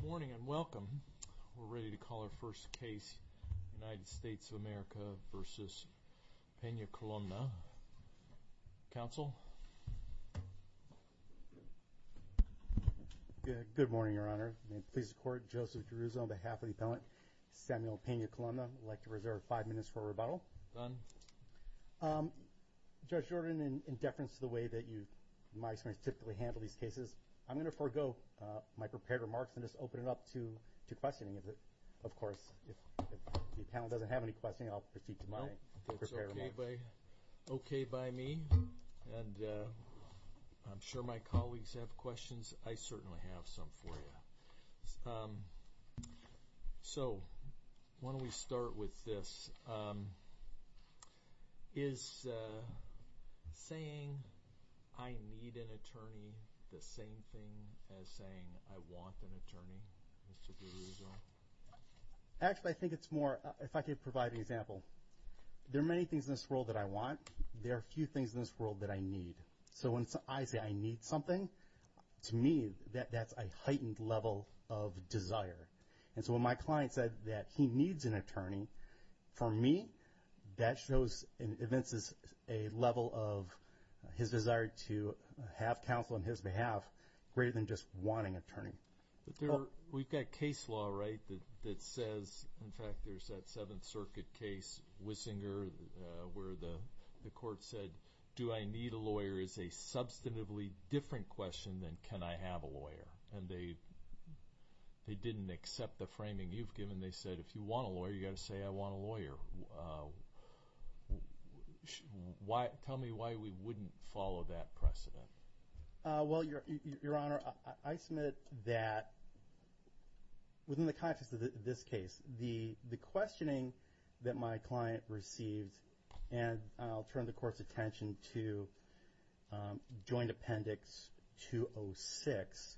Good morning and welcome. We're ready to call our first case, United States of America v. Pena-Columna. Counsel? Good morning, Your Honor. Please support Joseph Jerusalem on behalf of the appellant Samuel Pena-Columna. I'd like to reserve five minutes for a rebuttal. Done. Judge Jordan, in deference to the way that you, in my experience, typically handle these cases, I'm going to forgo my prepared remarks and just open it up to questioning. If, of course, if the appellant doesn't have any questions, I'll proceed to my prepared remarks. No, that's okay by me and I'm sure my colleagues have questions. I certainly have some for you. So why don't we start with this. Is saying I need an attorney the same thing as saying I want an attorney, Mr. Jerusalem? Actually, I think it's more, if I could provide an example, there are many things in this world that I want. There are few things in this world that I need. So when I say I need something, to me, that's a heightened level of desire. And so when my client said that he needs an attorney, for me, that shows and evinces a level of his desire to have counsel on his behalf greater than just wanting an attorney. But there, we've got case law, right, that says, in fact, there's that Seventh Circuit case, Wissinger, where the court said, do I need a lawyer is a substantively different question than can I have a lawyer. And they didn't accept the framing you've given. They said, if you want a lawyer, you got to say, I want a lawyer. Why, tell me why we wouldn't follow that precedent? Well, Your Honor, I submit that within the context of this case, the questioning that my client received, and I'll turn the court's attention to joint appendix 206,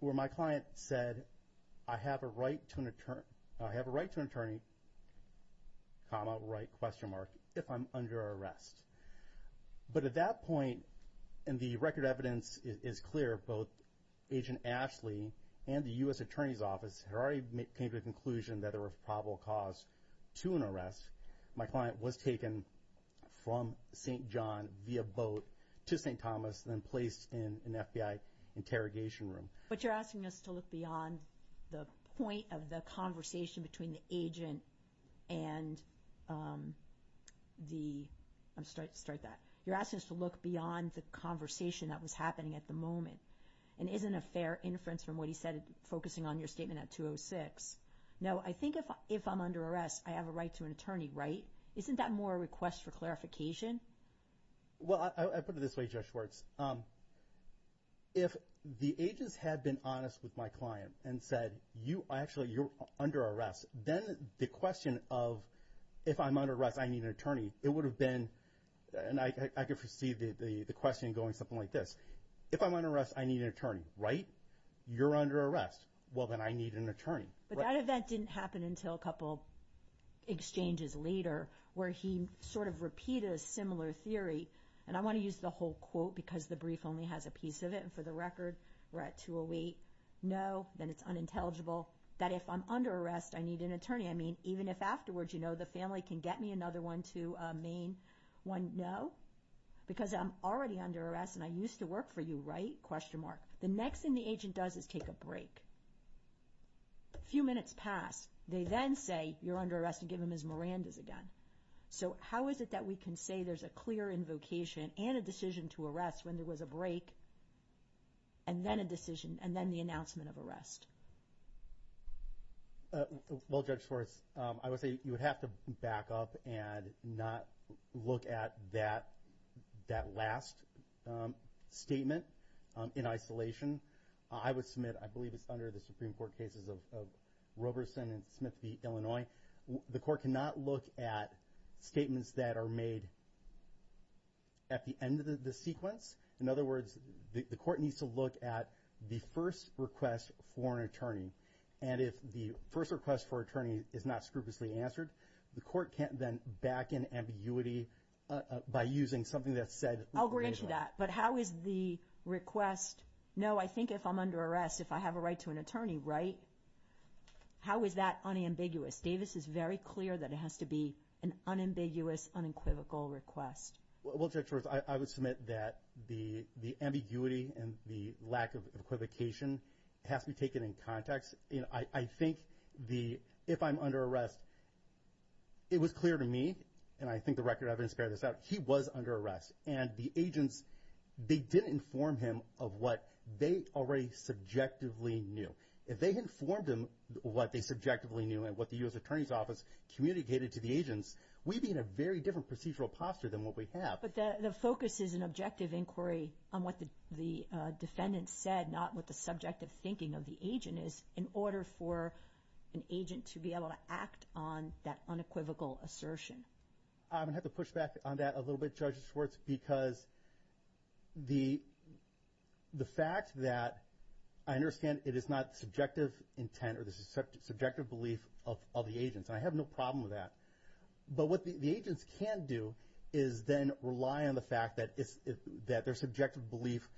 where my client said, I have a right to an attorney, comma, right, question mark, if I'm under arrest. But at that point, and the record evidence is clear, both Agent Ashley and the U.S. Attorney's Office had already came to the conclusion that there was probable cause to an arrest. My client was taken from St. John via boat to St. Thomas, then placed in an FBI interrogation room. But you're asking us to look beyond the point of the conversation between the agent and the, start that, you're asking us to look beyond the conversation that was happening at the moment. And isn't a fair inference from what he said, focusing on your statement at 206? No, I think if I'm under arrest, I have a right to an attorney. Well, I put it this way, Judge Schwartz, if the agents had been honest with my client and said, you, actually, you're under arrest, then the question of, if I'm under arrest, I need an attorney, it would have been, and I could perceive the question going something like this, if I'm under arrest, I need an attorney, right? You're under arrest. Well, then I need an attorney. But that event didn't happen until a couple exchanges later, where he sort of repeated a similar theory, and I want to use the whole quote, because the brief only has a piece of it, and for the record, we're at 208. No, then it's unintelligible, that if I'm under arrest, I need an attorney. I mean, even if afterwards, you know, the family can get me another one to Maine. One, no, because I'm already under arrest, and I used to work for you, right? Question mark. The next thing the agent does is take a break. A few minutes pass. They then say, you're under arrest, and give him his earlier invocation, and a decision to arrest, when there was a break, and then a decision, and then the announcement of arrest. Well, Judge Torres, I would say you would have to back up and not look at that last statement in isolation. I would submit, I believe it's under the Supreme Court cases of Roberson and at the end of the sequence, in other words, the court needs to look at the first request for an attorney, and if the first request for attorney is not scrupulously answered, the court can't then back in ambiguity by using something that's said. I'll agree to that, but how is the request, no, I think if I'm under arrest, if I have a right to an attorney, right? How is that unambiguous? Davis is very clear that it has to be an unambiguous, unequivocal request. Well, Judge Torres, I would submit that the ambiguity and the lack of equivocation has to be taken in context, and I think the, if I'm under arrest, it was clear to me, and I think the record evidence carried this out, he was under arrest, and the agents, they didn't inform him of what they already subjectively knew. If they informed him what they subjectively knew, and what the U.S. Attorney's Office communicated to the agents, we'd be in a very different procedural posture than what we have. But the focus is an objective inquiry on what the defendant said, not what the subjective thinking of the agent is, in order for an agent to be able to act on that unequivocal assertion. I'm gonna have to push back on that a little bit, Judge Schwartz, because the fact that I understand it is not subjective intent or the subjective belief of the agents, and I have no problem with that, but what the agents can do is then rely on the fact that their subjective belief,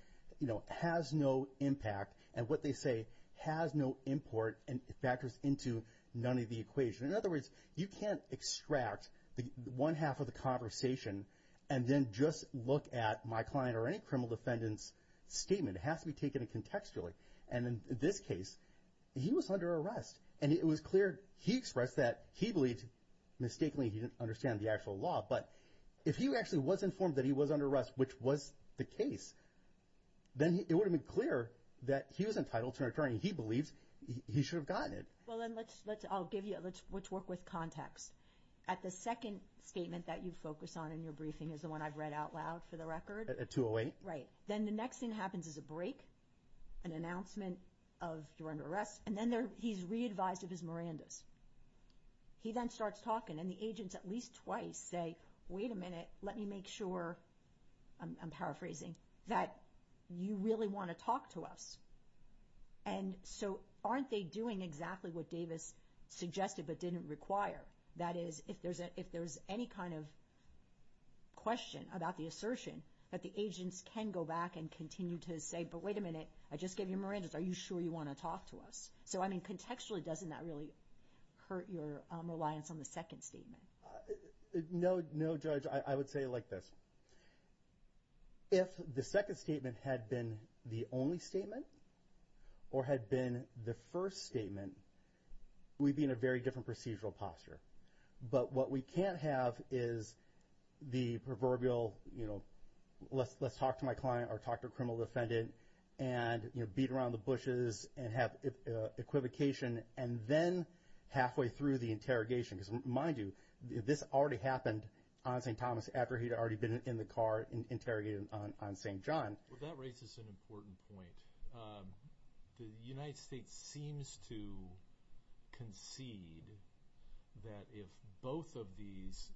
you know, has no impact, and what they say has no import and factors into none of the equation. In other words, you can't extract the one half of the conversation and then just look at my client or any criminal defendant's statement. It has to be taken in contextually, and in this case, he was under arrest, and it was clear he expressed that he believed, mistakenly, he didn't understand the actual law, but if he actually was informed that he was under arrest, which was the case, then it would have been clear that he was entitled to an attorney he believes he should have gotten it. Well then, let's work with context. At the second statement that you focus on in your briefing is the one I've read out loud for the record. At 208? Right. Then the next thing happens is a break, an announcement of you're under arrest, and then he's re-advised of his statement. He then starts talking, and the agents at least twice say, wait a minute, let me make sure, I'm paraphrasing, that you really want to talk to us, and so aren't they doing exactly what Davis suggested but didn't require? That is, if there's any kind of question about the assertion, that the agents can go back and continue to say, but wait a minute, I just gave you a Miranda's, are you sure you want to talk to us? So, I mean, your reliance on the second statement. No, Judge, I would say like this. If the second statement had been the only statement, or had been the first statement, we'd be in a very different procedural posture. But what we can't have is the proverbial, you know, let's talk to my client, or talk to a criminal defendant, and beat around the bushes, and have equivocation, and then halfway through the interrogation, because mind you, this already happened on St. Thomas after he'd already been in the car and interrogated on St. John. Well, that raises an important point. The United States seems to concede that if both of these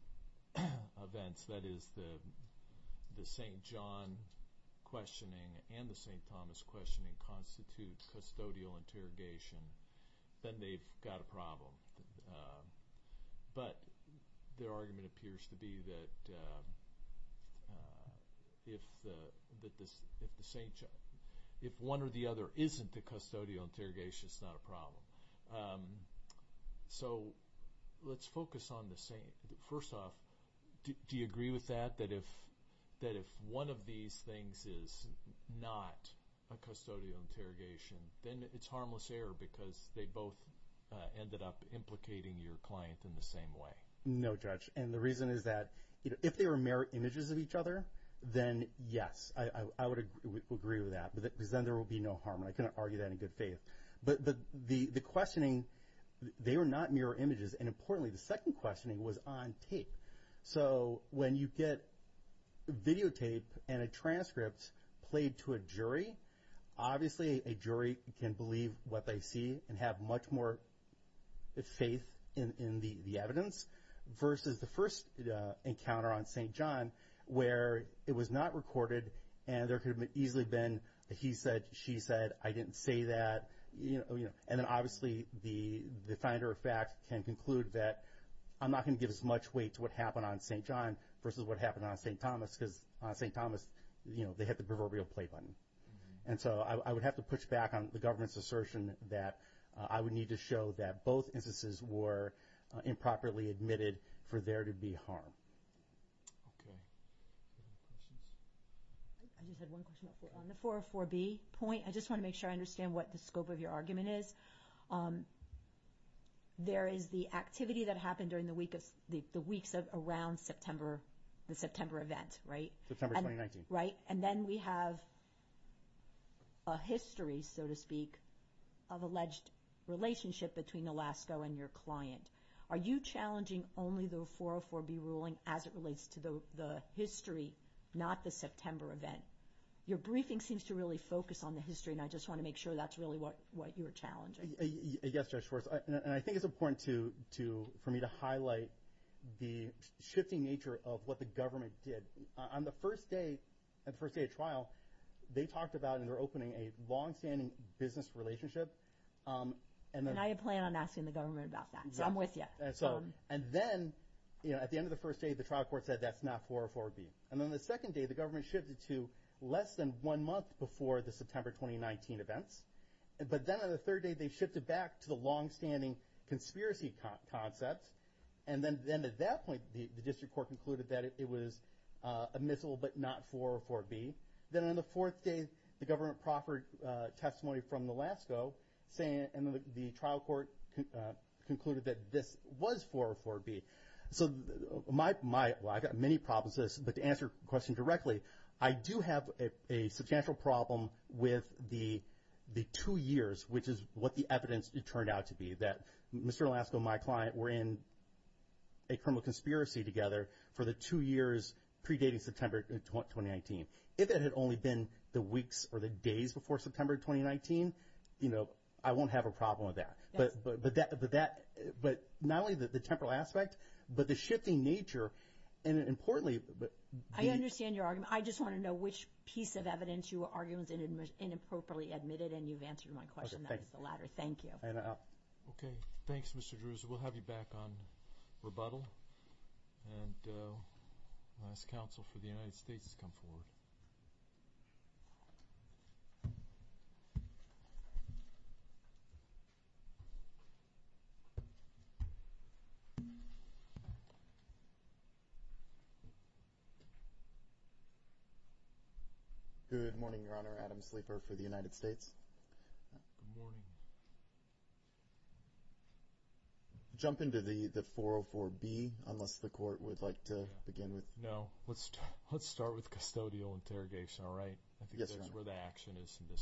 events, that is, the St. John questioning and the St. Thomas questioning constitute custodial interrogation, then they've got a problem. But their argument appears to be that if the St. John, if one or the other isn't the custodial interrogation, it's not a problem. So let's focus on the St. John. First off, do you agree with that? That if one of these things is not a custodial interrogation, then it's harmless error, because they both ended up implicating your client in the same way. No, Judge. And the reason is that if they were mirror images of each other, then yes, I would agree with that. Because then there will be no harm. I can't argue that in good faith. But the questioning, they were not mirror images. And importantly, the second questioning was on tape. So when you get videotape and a transcript played to a jury, obviously a jury can believe what they see and have much more faith in the evidence, versus the first encounter on St. John where it was not recorded and there could have easily been a he said, she said, I didn't say that. And then obviously the finder of fact can conclude that I'm not going to give as much weight to what happened on St. John versus what happened on St. Thomas, because on St. Thomas, they hit the proverbial play button. And so I would have to push back on the government's assertion that I would need to show that both instances were improperly admitted for there to be harm. I just had one question on the 404B point. I just want to make sure I understand what the scope of your argument is. There is the activity that happened, right? And then we have a history, so to speak, of alleged relationship between Alaska and your client. Are you challenging only the 404B ruling as it relates to the history, not the September event? Your briefing seems to really focus on the history, and I just want to make sure that's really what you're challenging. Yes, Judge Schwartz, and I think it's important for me to On the first day, the first day of trial, they talked about, in their opening, a long-standing business relationship. And I plan on asking the government about that, so I'm with you. And then, you know, at the end of the first day, the trial court said that's not 404B. And then the second day, the government shifted to less than one month before the September 2019 events. But then on the third day, they shifted back to the long-standing conspiracy concepts. And then at that point, the district court concluded that it was admissible, but not 404B. Then on the fourth day, the government proffered testimony from the LASCO, saying, and the trial court concluded that this was 404B. So my, well, I've got many problems with this, but to answer the question directly, I do have a substantial problem with the two years, which is what the evidence turned out to be, that Mr. LASCO and my client were in a criminal conspiracy together for the two years predating September 2019. If it had only been the weeks or the days before September 2019, you know, I won't have a problem with that. But that, but not only the temporal aspect, but the shifting nature, and importantly, but I understand your argument. I just want to know which piece of evidence your argument is inappropriately admitted, and you've answered my question. That's the latter, thank you. Okay, thanks, Mr. Drewes. We'll have you back on rebuttal, and the last counsel for the United States has come forward. Good morning, Your Honor. Adam Sleeper for the United States. Jump into the 404B, unless the court would like to begin with. No, let's let's start with this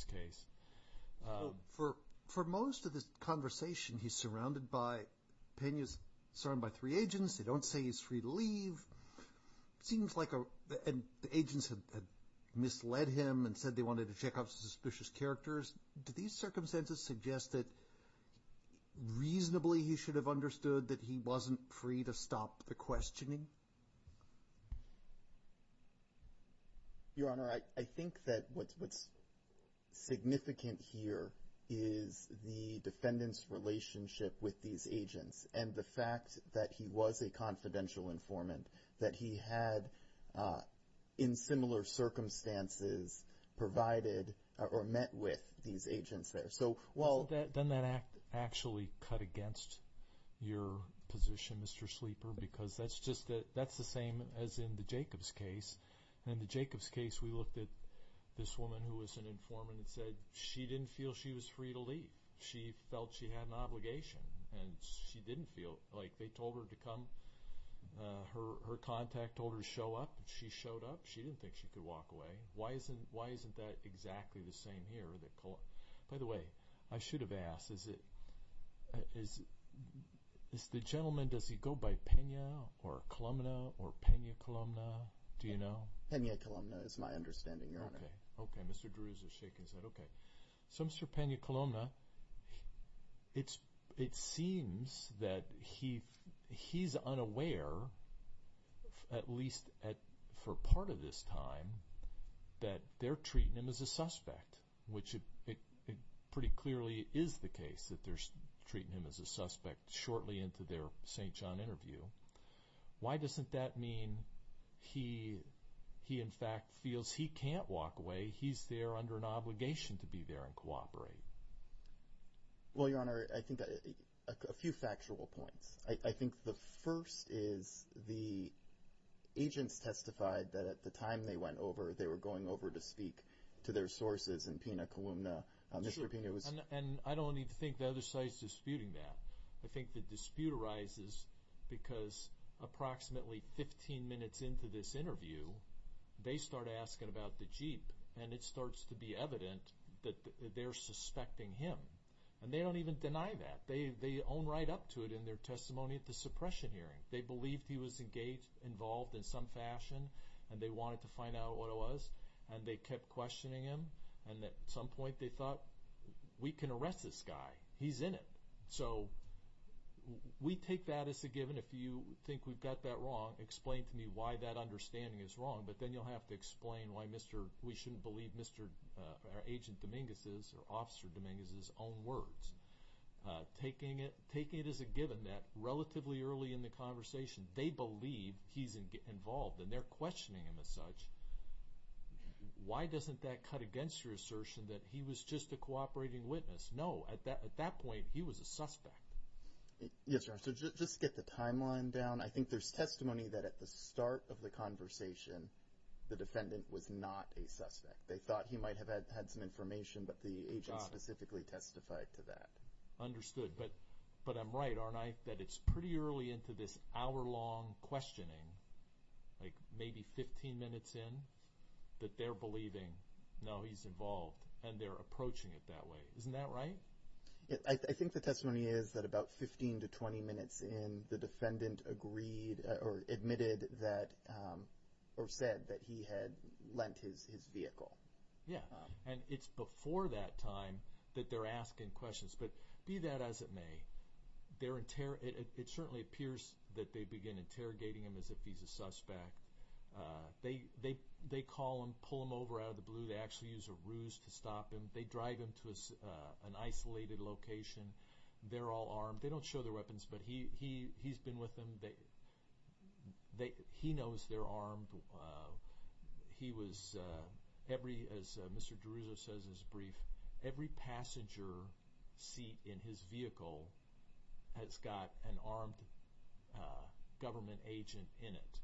case. For most of this conversation, he's surrounded by three agents. They don't say he's free to leave. It seems like the agents had misled him and said they wanted to check up suspicious characters. Do these circumstances suggest that reasonably he should have understood that he wasn't free to stop the questioning? Your Honor, I think that what's significant here is the defendant's relationship with these agents, and the fact that he was a confidential informant, that he had, in similar circumstances, provided or met with these agents there. So, well... Doesn't that actually cut against your That's just that that's the same as in the Jacobs case. In the Jacobs case, we looked at this woman who was an informant and said she didn't feel she was free to leave. She felt she had an obligation, and she didn't feel like they told her to come. Her contact told her to show up, and she showed up. She didn't think she could walk away. Why isn't that exactly the same here? By the way, I should have asked, is the gentleman, does he go by Pena or Columna or Pena Columna? Do you know? Pena Columna is my understanding, Your Honor. Okay. Okay. Mr. Drews is shaking his head. Okay. So, Mr. Pena Columna, it seems that he's unaware, at least for part of this time, that they're treating him as a suspect, which it pretty clearly is the case that they're treating him as a suspect shortly into their St. John interview. Why doesn't that mean he in fact feels he can't walk away? He's there under an obligation to be there and cooperate. Well, Your Honor, I think a few factual points. I think the first is the agents testified that at the time they went over, they were going over to speak to their sources in Pena Columna. Mr. Pena was And I don't even think the other side is disputing that. I think the dispute arises because approximately 15 minutes into this interview, they start asking about the jeep and it starts to be evident that they're suspecting him. And they don't even deny that. They own right up to it in their testimony at the suppression hearing. They believed he was engaged, involved in some fashion, and they wanted to find out what it was, and they kept questioning him. And at some point, we can arrest this guy. He's in it. So we take that as a given. If you think we've got that wrong, explain to me why that understanding is wrong. But then you'll have to explain why we shouldn't believe Agent Dominguez's or Officer Dominguez's own words. Taking it as a given that relatively early in the conversation, they believe he's involved and they're questioning him as such. Why doesn't that cut against your assertion that he was just a cooperating witness? No. At that point, he was a suspect. Yes, sir. So just get the timeline down. I think there's testimony that at the start of the conversation, the defendant was not a suspect. They thought he might have had some information, but the agent specifically testified to that. Understood. But I'm right, aren't I? That it's pretty early into this hour-long questioning, like maybe 15 minutes in, that they're believing, no, he's involved. And they're approaching it that way. Isn't that right? I think the testimony is that about 15 to 20 minutes in, the defendant agreed or admitted that or said that he had lent his vehicle. Yeah, and it's before that time that they're asking questions. But be that as it may, it certainly appears that they begin interrogating him as if he's a suspect. They call him, pull him over out of the blue. They actually use a ruse to stop him. They drive him to an isolated location. They're all armed. They don't show their weapons, but he's been with them. He knows they're armed. As Mr. Deruso says in his brief, every passenger seat in his vehicle has got an armed government agent in it.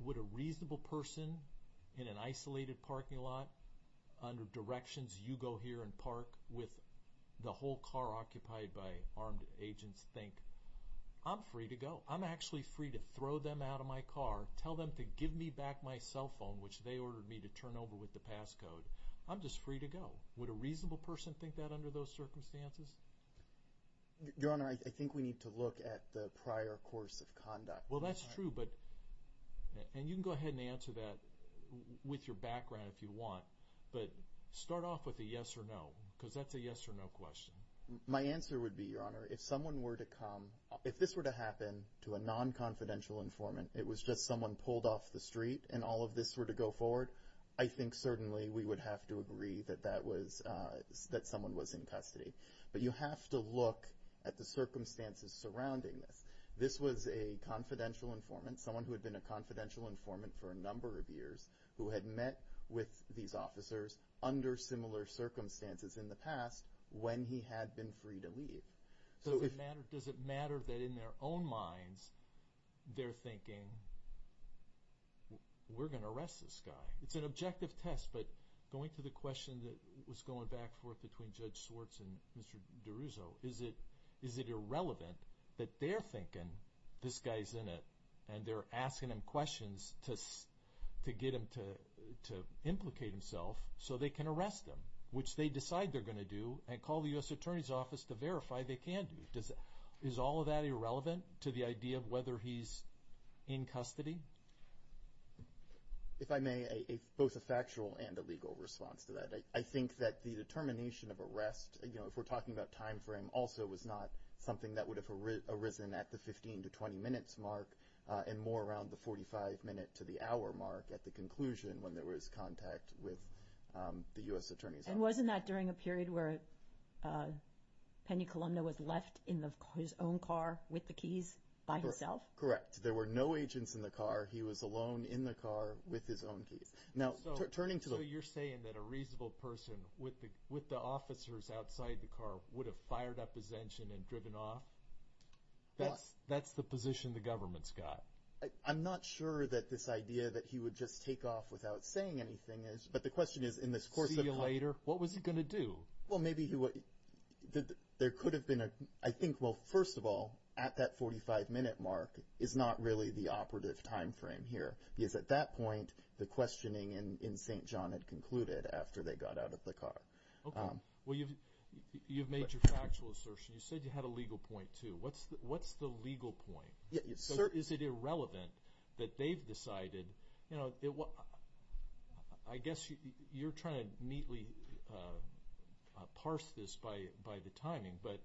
Would a person in an isolated parking lot, under directions, you go here and park with the whole car occupied by armed agents think, I'm free to go. I'm actually free to throw them out of my car, tell them to give me back my cell phone, which they ordered me to turn over with the passcode. I'm just free to go. Would a reasonable person think that under those circumstances? Your Honor, I think we need to look at the prior course of conduct. Well, that's true, but, and you can go ahead and answer that with your background if you want, but start off with a yes or no, because that's a yes or no question. My answer would be, Your Honor, if someone were to come, if this were to happen to a non-confidential informant, it was just someone pulled off the street and all of this were to go forward, I think certainly we would have to agree that that was, that someone was in custody. But you have to look at the circumstances surrounding this. This was a confidential informant, someone who had been a confidential informant for a number of years, who had met with these officers under similar circumstances in the past when he had been free to leave. Does it matter, does it matter that in their own minds they're thinking, we're going to arrest this guy? It's an objective test, but going to the question that was going back forth between Judge that they're thinking, this guy's in it, and they're asking him questions to get him to implicate himself so they can arrest him, which they decide they're going to do and call the U.S. Attorney's Office to verify they can do. Is all of that irrelevant to the idea of whether he's in custody? If I may, both a factual and a legal response to that. I think that the determination of arrest, you know, if we're talking about time frame, also was not something that would have arisen at the 15 to 20 minutes mark, and more around the 45 minute to the hour mark at the conclusion when there was contact with the U.S. Attorney's Office. And wasn't that during a period where Penny Columna was left in his own car with the keys by himself? Correct. There were no agents in the car. He was alone in the car with his own keys. Now, turning to the... would have fired up his engine and driven off? That's the position the government's got. I'm not sure that this idea that he would just take off without saying anything is... But the question is, in this course of... See you later? What was he going to do? Well, maybe he would... There could have been a... I think, well, first of all, at that 45 minute mark is not really the operative time frame here, because at that point, the questioning in St. John had concluded after they got out of the car. Okay. Well, you've made your factual assertion. You said you had a legal point, too. What's the legal point? Is it irrelevant that they've decided... I guess you're trying to neatly parse this by the timing, but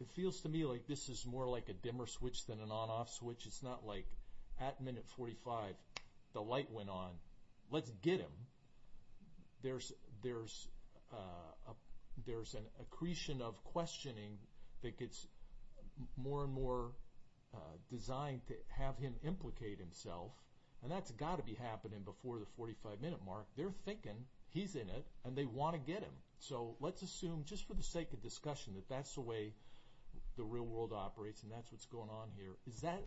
it feels to me like this is more like a dimmer switch than an on-off switch. It's not like at minute 45, the light went on, let's get him. There's an accretion of questioning that gets more and more designed to have him implicate himself, and that's got to be happening before the 45 minute mark. They're thinking, he's in it, and they want to get him. So let's assume, just for the sake of discussion, that that's the way the real world operates, and that's what's going on here. Is that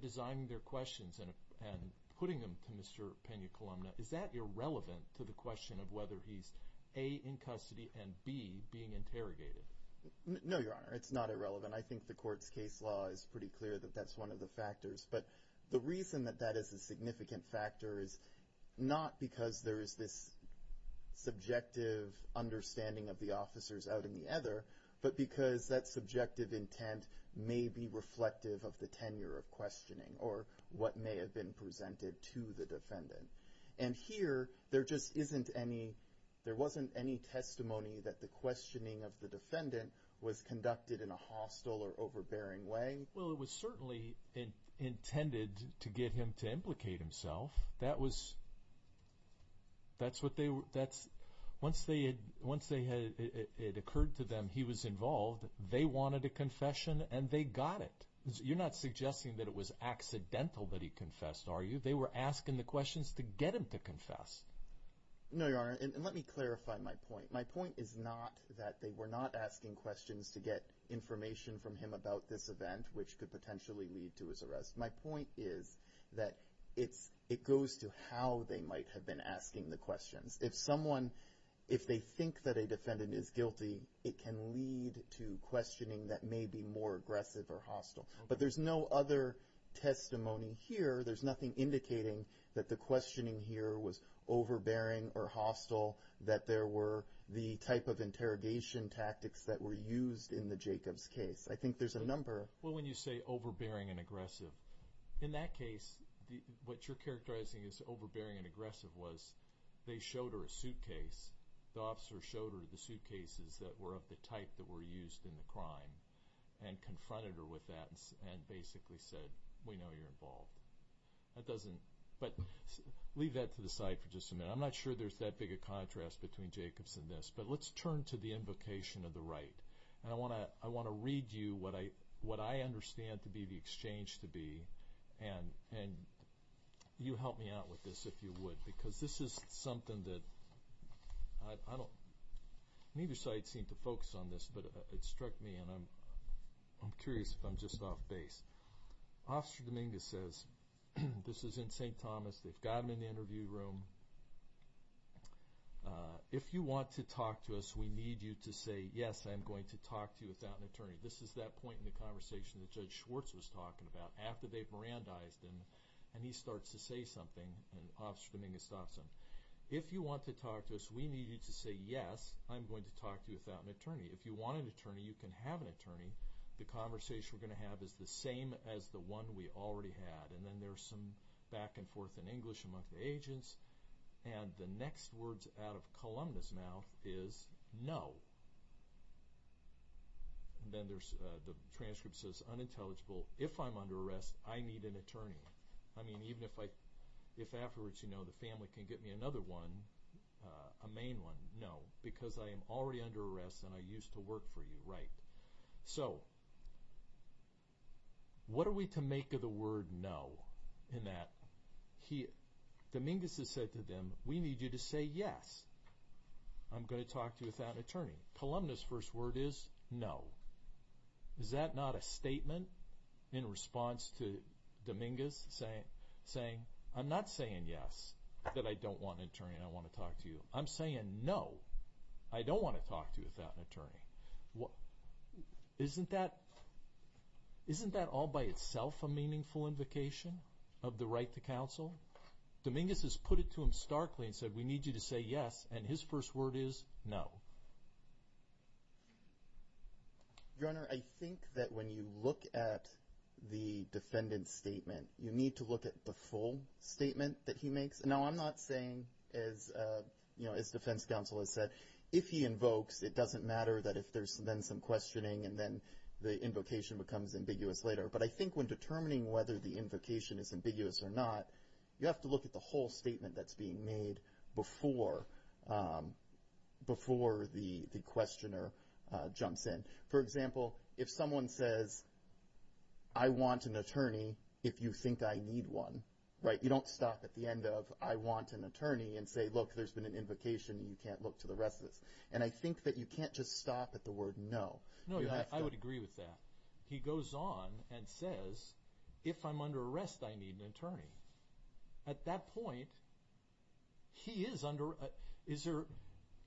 designing their questions and putting them to Mr. Pena-Columna, is that irrelevant to the question of whether he's A, in custody, and B, being interrogated? No, Your Honor. It's not irrelevant. I think the court's case law is pretty clear that that's one of the factors. But the reason that that is a significant factor is not because there is this subjective understanding of the officers out in the ether, but because that subjective intent may be reflective of the what may have been presented to the defendant. And here, there just isn't any, there wasn't any testimony that the questioning of the defendant was conducted in a hostile or overbearing way. Well, it was certainly intended to get him to implicate himself. Once it occurred to them he was involved, they wanted a confession, and they got it. You're not suggesting that it was accidental that he confessed, are you? They were asking the questions to get him to confess. No, Your Honor. And let me clarify my point. My point is not that they were not asking questions to get information from him about this event, which could potentially lead to his arrest. My point is that it goes to how they might have been asking the questions. If someone, if they think that a defendant is guilty, it can lead to questioning that may be more aggressive or hostile. But there's no other testimony here. There's nothing indicating that the questioning here was overbearing or hostile, that there were the type of interrogation tactics that were used in the Jacobs case. I think there's a number. Well, when you say overbearing and aggressive, in that case, what you're characterizing as overbearing and aggressive was they showed her a suitcase. The officer showed her the suitcases that were of the type that were used in the crime and confronted her with that and basically said, we know you're involved. But leave that to the side for just a minute. I'm not sure there's that big a contrast between Jacobs and this, but let's turn to the invocation of the right. And I want to read you what I understand to be the exchange to be. And you help me out with this if you would, because this is something that I don't, neither side seem to focus on this, but it struck me and I'm curious if I'm just off base. Officer Dominguez says, this is in St. Thomas, they've got him in the interview room. If you want to talk to us, we need you to say, yes, I'm going to talk to you without an attorney. This is that point in the conversation that Judge Schwartz was talking about after they've Mirandized him and he starts to say something and Officer Dominguez stops him. If you want to talk to us, we need you to say, yes, I'm going to talk to you without an attorney. If you want an attorney, you can have an attorney. The conversation we're going to have is the same as the one we already had. And then there's some back and forth in English among the agents. And the next words out of Columna's mouth is no. Then there's the transcript says unintelligible. If I'm under arrest, I need an attorney. I mean, even if I, if afterwards, you know, the family can get me another one, a main one, no, because I am already under arrest and I used to work for you, right? So what are we to make of the word no in that he, Dominguez has said to them, we need you to say yes, I'm going to talk to you without an attorney. Columna's first word is no. Is that not a statement in response to Dominguez saying, I'm not saying yes, that I don't want an attorney and I want to talk to you. I'm saying no, I don't want to talk to you without an attorney. Isn't that, isn't that all by itself a meaningful invocation of the right to counsel? Dominguez has put it to him starkly and said, we need you to say yes. And his first word is no. Your Honor, I think that when you look at the defendant's statement, you need to look at the full statement that he makes. And now I'm not saying as, you know, as defense counsel has said, if he invokes, it doesn't matter that if there's then some questioning and then the invocation becomes ambiguous later. But I think when determining whether the invocation is ambiguous or not, you have to look at the whole statement that's being made before, before the, the questioner jumps in. For example, if someone says, I want an attorney, if you think I need one, right? You don't stop at the end of, I want an attorney and say, look, there's been an invocation and you can't look to the rest of this. And I think that you can't just stop at the word no. No, I would agree with that. He goes on and says, if I'm under arrest, I need an attorney. At that point, he is under, is there,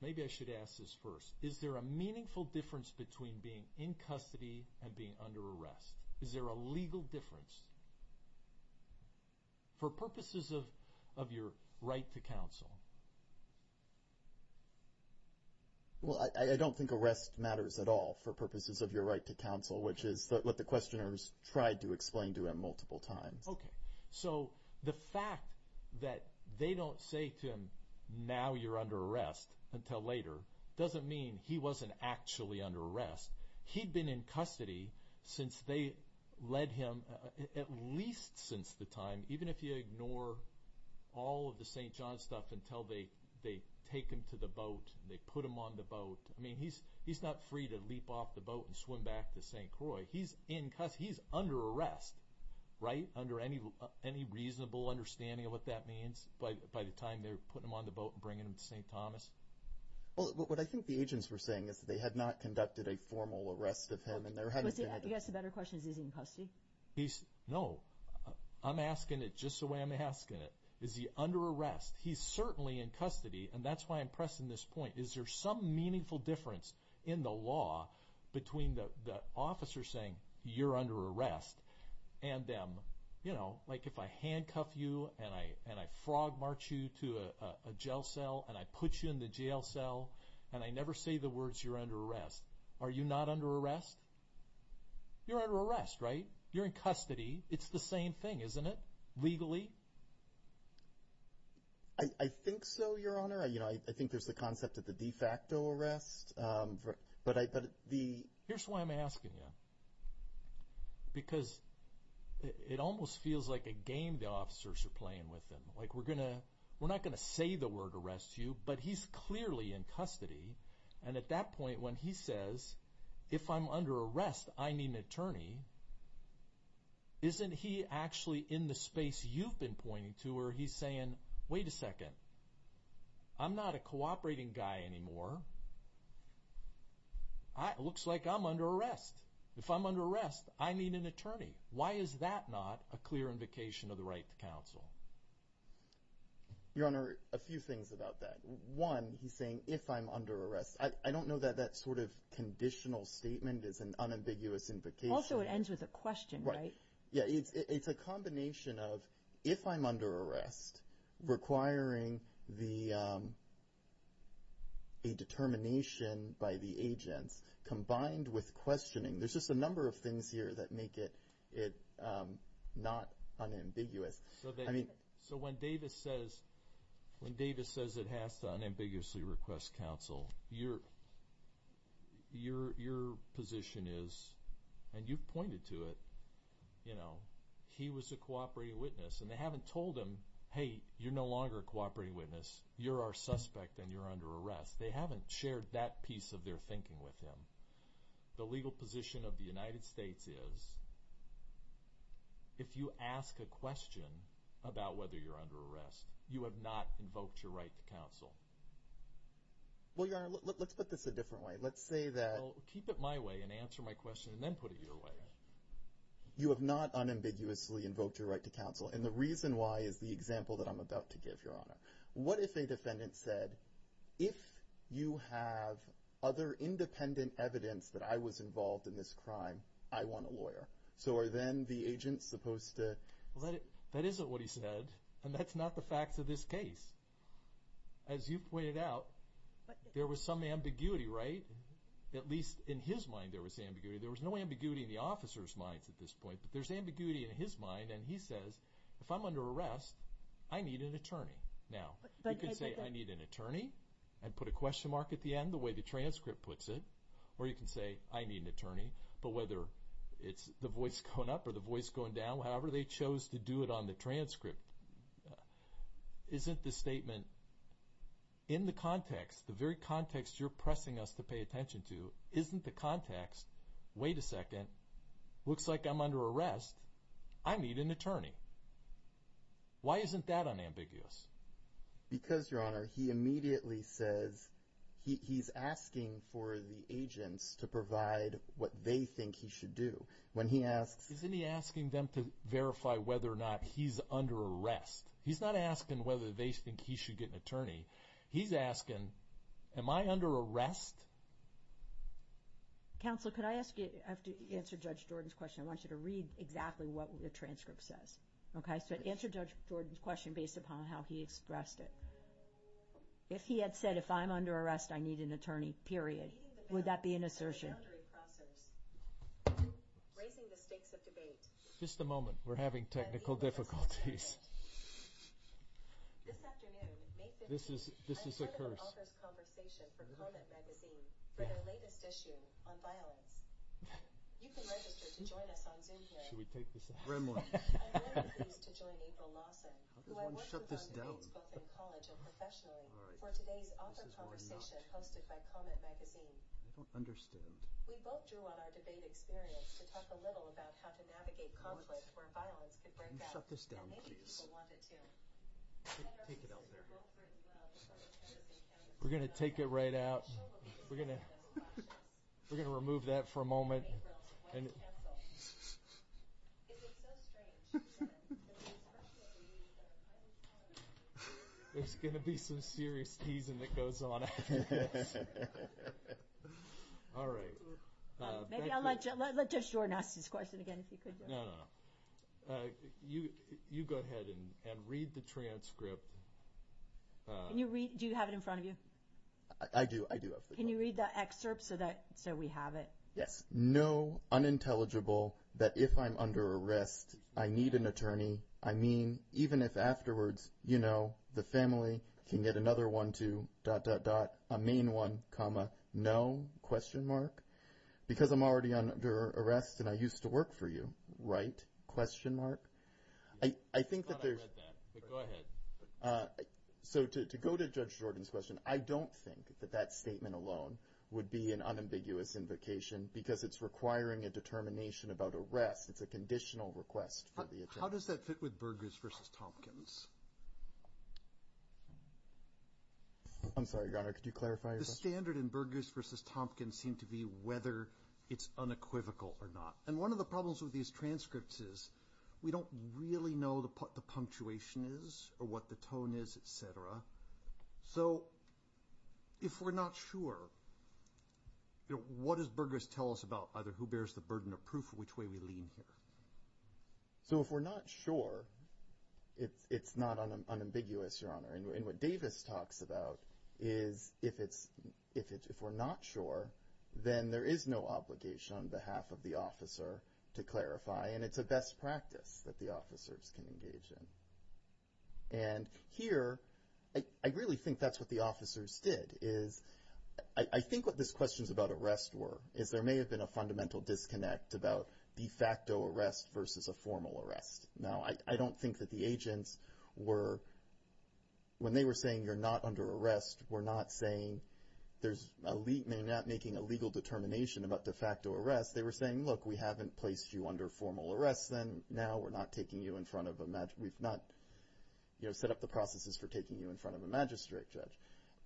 maybe I should ask this first. Is there a meaningful difference between being in custody and being under arrest? Is there a legal difference? For purposes of, of your right to counsel. Well, I don't think arrest matters at all for purposes of your right to counsel, which is what the questioners tried to explain to him multiple times. Okay. So the fact that they don't say to him, now you're under arrest until later, doesn't mean he wasn't actually under arrest. He'd been in custody since they led him, at least since the time, even if you ignore all of the St. John's stuff until they, they take him to the boat and they put him on the boat. I mean, he's, he's not free to leap off the boat and swim back to St. Croix. He's in custody, he's under arrest, right? Under any, any reasonable understanding of what that means by, by the time they're putting him on the boat and bringing him to St. Thomas. Well, what I think the agents were saying is that they had not conducted a formal arrest of him. I guess the better question is, is he in custody? He's, no, I'm asking it just the way I'm asking it. Is he under arrest? He's certainly in custody and that's why I'm pressing this point. Is there some meaningful difference in the law between the, the officer saying you're under arrest and them, you know, like if I handcuff you and I, and I frog march you to a jail cell and I put you in the jail cell and I never say the words, you're under arrest. Are you not under arrest? You're under arrest, right? You're in custody. It's the same thing, isn't it? Legally? I think so, your honor. I, you know, I think there's the concept of the de facto arrest. But I, but the... Here's why I'm asking you, because it almost feels like a game the officers are playing with him. Like we're going to, we're not going to say the word arrest to you, but he's clearly in custody and at that point when he says, if I'm under arrest, I need an attorney. Isn't he actually in the space you've been pointing to where he's saying, wait a second, I'm not a cooperating guy anymore. I, it looks like I'm under arrest. If I'm under arrest, I need an attorney. Why is that not a clear invocation of the right to counsel? Your honor, a few things about that. One, he's saying, if I'm under arrest, I don't know that that sort of conditional statement is an unambiguous invocation. Also, it ends with a question, right? Yeah. It's a combination of, if I'm under arrest, requiring the, a determination by the agents combined with questioning. There's just a number of things that make it not unambiguous. So when Davis says it has to unambiguously request counsel, your position is, and you've pointed to it, you know, he was a cooperating witness and they haven't told him, hey, you're no longer a cooperating witness. You're our suspect and you're under arrest. They haven't shared that piece of their thinking with him. The legal position of the United States is, if you ask a question about whether you're under arrest, you have not invoked your right to counsel. Well, your honor, let's put this a different way. Let's say that- Well, keep it my way and answer my question and then put it your way. You have not unambiguously invoked your right to counsel. And the reason why is the example that I'm about to give, your honor. What if a defendant said, if you have other independent evidence that I was involved in this crime, I want a lawyer. So are then the agents supposed to- That isn't what he said. And that's not the facts of this case. As you pointed out, there was some ambiguity, right? At least in his mind, there was ambiguity. There was no ambiguity in the officer's minds at this point, but there's ambiguity in his mind. And he says, if I'm under arrest, I need an attorney. Now, you can say, I need an attorney and put a question mark at the end, the way the transcript puts it. Or you can say, I need an attorney. But whether it's the voice going up or the voice going down, however they chose to do it on the transcript, isn't the statement in the context, the very context you're pressing us to an attorney. Why isn't that unambiguous? Because your honor, he immediately says, he's asking for the agents to provide what they think he should do. When he asks- Isn't he asking them to verify whether or not he's under arrest? He's not asking whether they think he should get an attorney. He's asking, am I under arrest? Counselor, could I ask you, I have to answer Judge Jordan's question. I want you to read exactly what the transcript says. So answer Judge Jordan's question based upon how he expressed it. If he had said, if I'm under arrest, I need an attorney, period, would that be an assertion? Just a moment, we're having technical difficulties. This is a curse. We're going to take it right out. We're going to remove that for a moment. It's going to be some serious teasing that goes on. All right. Maybe I'll let Judge Jordan ask this question again, if you could. No, no, no. You go ahead and read the transcript. Can you read, do you have it in front of you? I do, I do have it. Can you read the excerpt so that, so we have it? Yes. No, unintelligible, that if I'm under arrest, I need an attorney. I mean, even if afterwards, you know, the family can get another one too, dot, dot, dot, a main one, comma, no, question mark, because I'm already under arrest and I used to work for you, right, question mark. I think that there's- I thought I read that, but go ahead. So to go to Judge Jordan's question, I don't think that that statement alone would be an unambiguous invocation because it's requiring a determination about arrest. It's a conditional request for the attorney. How does that fit with Burgess versus Tompkins? I'm sorry, Your Honor, could you clarify your question? The standard in Burgess versus Tompkins seemed to be whether it's unequivocal or not. And one of the problems with these transcripts is we don't really know what the punctuation is or the tone is, et cetera. So if we're not sure, what does Burgess tell us about either who bears the burden of proof or which way we lean here? So if we're not sure, it's not unambiguous, Your Honor. And what Davis talks about is if we're not sure, then there is no obligation on behalf of the officer to clarify. And it's a best practice that the officers can engage in. And here, I really think that's what the officers did, is I think what these questions about arrest were is there may have been a fundamental disconnect about de facto arrest versus a formal arrest. Now, I don't think that the agents were, when they were saying you're not under arrest, were not saying, they're not making a legal determination about de facto arrest, they were saying, look, we haven't placed you under formal arrest, then now we're not taking you in front of a, we've not, you know, set up the processes for taking you in front of a magistrate judge.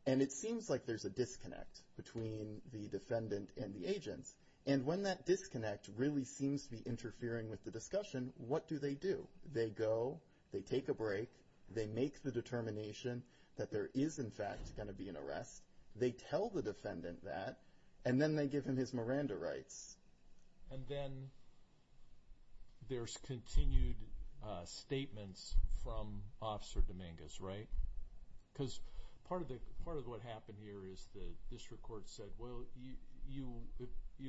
And it seems like there's a disconnect between the defendant and the agents. And when that disconnect really seems to be interfering with the discussion, what do they do? They go, they take a break, they make the determination that there is, in fact, going to be an arrest. They tell the defendant that, and then they give him his Miranda rights. And then there's continued statements from Officer Dominguez, right? Because part of the, part of what happened here is the district court said, well, you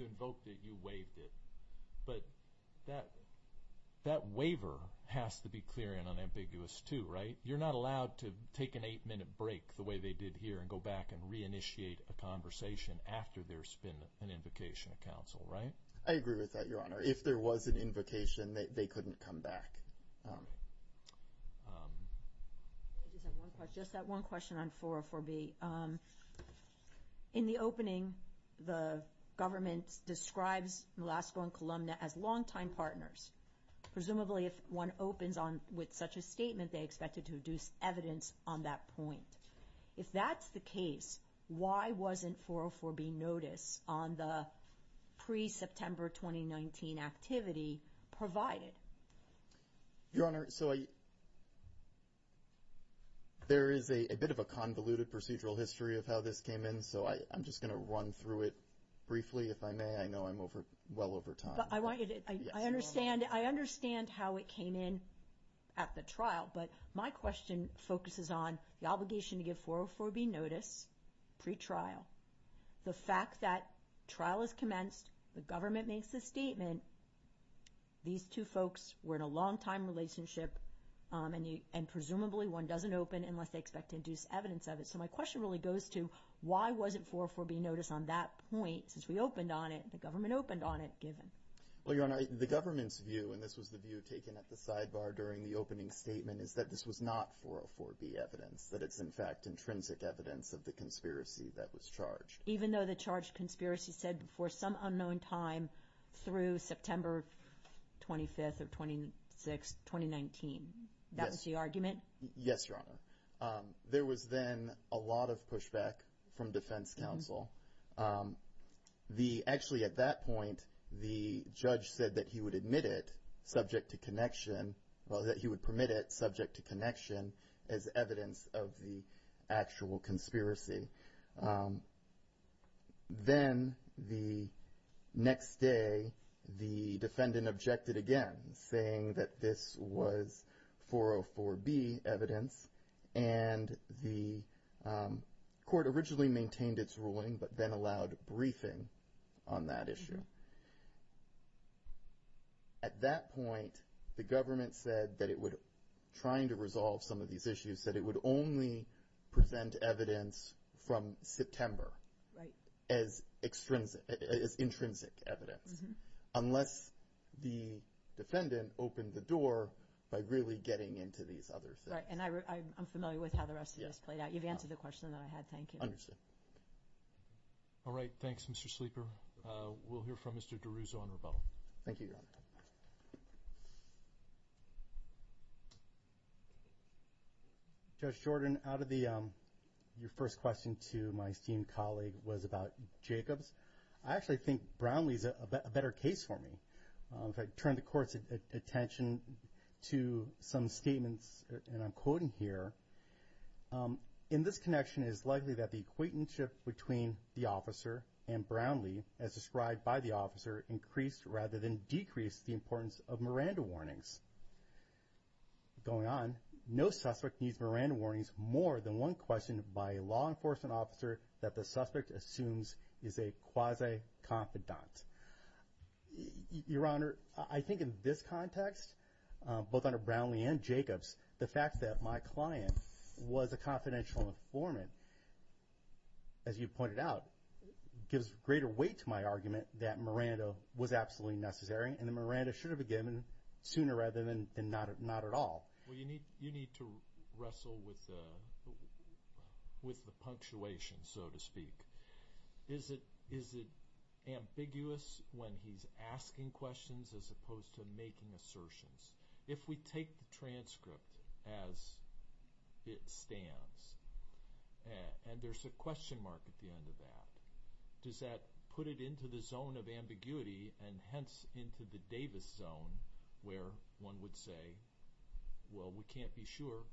invoked it, you waived it. But that waiver has to be clear and unambiguous too, right? You're not allowed to take an eight minute break the way they did here and go back and reinitiate a conversation after there's been an invocation of counsel, right? I agree with that, Your Honor. If there was an invocation, they couldn't come back. I just have one question, just that one question on 404B. In the opening, the government describes Melasco and Columna as longtime partners. Presumably, if one opens on with such a statement, they expected to deduce evidence on that point. If that's the case, why wasn't 404B notice on the pre-September 2019 activity provided? Your Honor, so I, there is a bit of a convoluted procedural history of how this came in, so I'm just going to run through it briefly, if I may. I know I'm over, well over time. But I want you to, I understand, I understand how it came in at the trial, but my question focuses on the obligation to give 404B notice pre-trial. The fact that trial has commenced, the government makes the statement, these two folks were in a longtime relationship, and presumably one doesn't open unless they expect to deduce evidence of it. So my question really goes to, why wasn't 404B notice on that point, since we opened on it, the government opened on it, given? Well, Your Honor, the government's view, and this was the view taken at the sidebar during the opening statement, is that this was not 404B evidence, that it's, in fact, intrinsic evidence of the conspiracy that was charged. Even though the charged conspiracy said before some unknown time through September 25th or 26th, 2019, that was the argument? Yes, Your Honor. There was then a lot of pushback from defense counsel. The, actually at that point, the judge said that he would admit it, subject to connection, well, that he would permit it, subject to connection, as evidence of the actual conspiracy. Then the next day, the defendant objected again, saying that this was 404B evidence, and the judge said, at that point, the government said that it would, trying to resolve some of these issues, said it would only present evidence from September as intrinsic evidence, unless the defendant opened the door by really getting into these other things. Right, and I'm familiar with how the rest of this played out. You've answered the question that I had. Thank you. Understood. All right. Thanks, Mr. Sleeper. We'll hear from Mr. DeRuzzo on rebuttal. Thank you, Your Honor. Judge Jordan, out of the, your first question to my esteemed colleague was about Jacobs. I actually think Brownlee's a better case for me. If I turn the court's attention to some statements, and I'm between the officer and Brownlee, as described by the officer, increased rather than decreased the importance of Miranda warnings. Going on, no suspect needs Miranda warnings more than one question by a law enforcement officer that the suspect assumes is a quasi-confidant. Your Honor, I think in this context, both under Brownlee and Jacobs, the fact that my client was a as you pointed out, gives greater weight to my argument that Miranda was absolutely necessary, and that Miranda should have been given sooner rather than not at all. Well, you need to wrestle with the punctuation, so to speak. Is it ambiguous when he's asking questions as opposed to making assertions? If we take the transcript as it stands, and there's a question mark at the end of that, does that put it into the zone of ambiguity, and hence into the Davis zone, where one would say, well, we can't be sure,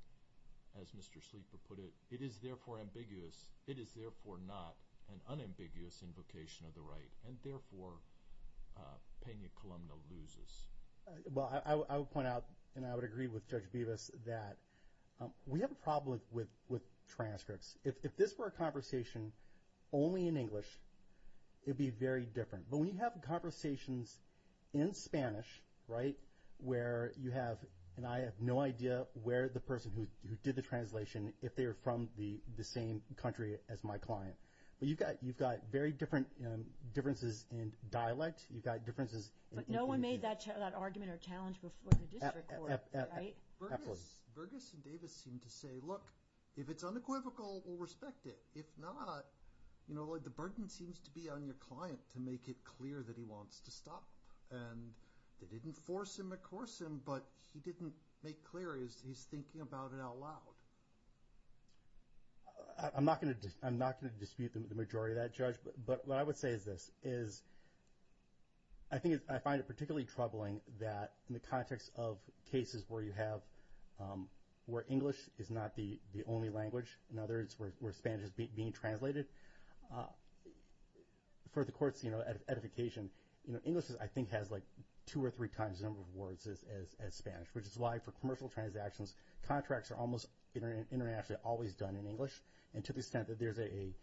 as Mr. Sleeper put it. It is therefore ambiguous. It is therefore not an unambiguous invocation of the right, and therefore, Pena-Columna loses. Well, I would point out, and I would agree with Judge Bevis, that we have a problem with transcripts. If this were a conversation only in English, it'd be very different. But when you have conversations in Spanish, right, where you have, and I have no idea where the person who did the translation, if they are from the same country as my client. But you've got very different differences in dialect. You've got differences. But no one made that argument or challenge before the district court, right? Burgess and Davis seem to say, look, if it's unequivocal, we'll respect it. If not, you know, the burden seems to be on your client to make it clear that he wants to stop. And they didn't force him or coerce him, but he didn't make clear he's thinking about it out loud. I'm not going to dispute the majority of that, Judge. But what I would say is this, that in the context of cases where you have, where English is not the only language, in other words, where Spanish is being translated, for the courts, you know, edification, you know, English, I think, has like two or three times the number of words as Spanish, which is why for commercial transactions, contracts are almost internationally always done in English. And to the extent that there's a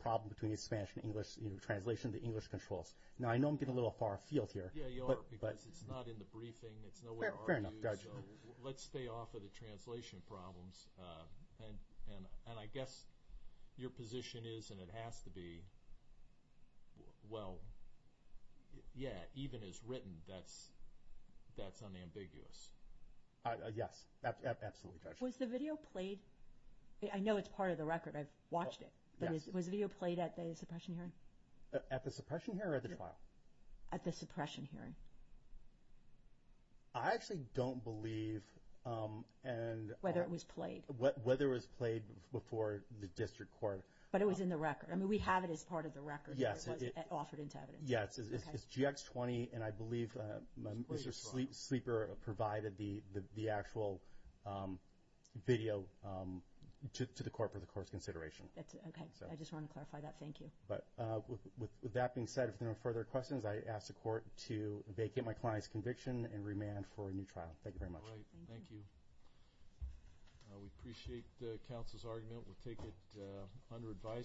problem between Spanish and English, you know, translation, the English controls. Now, I know I'm getting a little far afield here. Yeah, you are, because it's not in the briefing. It's nowhere are you. So let's stay off of the translation problems. And I guess your position is, and it has to be, well, yeah, even as written, that's unambiguous. Yes, absolutely, Judge. Was the video played? I know it's part of the record. I've watched it. But was the video played at the suppression hearing? At the suppression hearing or at the trial? At the suppression hearing. I actually don't believe. And whether it was played. Whether it was played before the district court. But it was in the record. I mean, we have it as part of the record. Yes. It was offered into evidence. Yes, it's GX20. And I believe Mr. Sleeper provided the actual video to the court for the court's consideration. That's okay. I just want to clarify that. Thank you. But with that being said, if there are no further questions, I ask the court to vacate my client's conviction and remand for a new trial. Thank you very much. Thank you. We appreciate the counsel's argument. We'll take it under advice.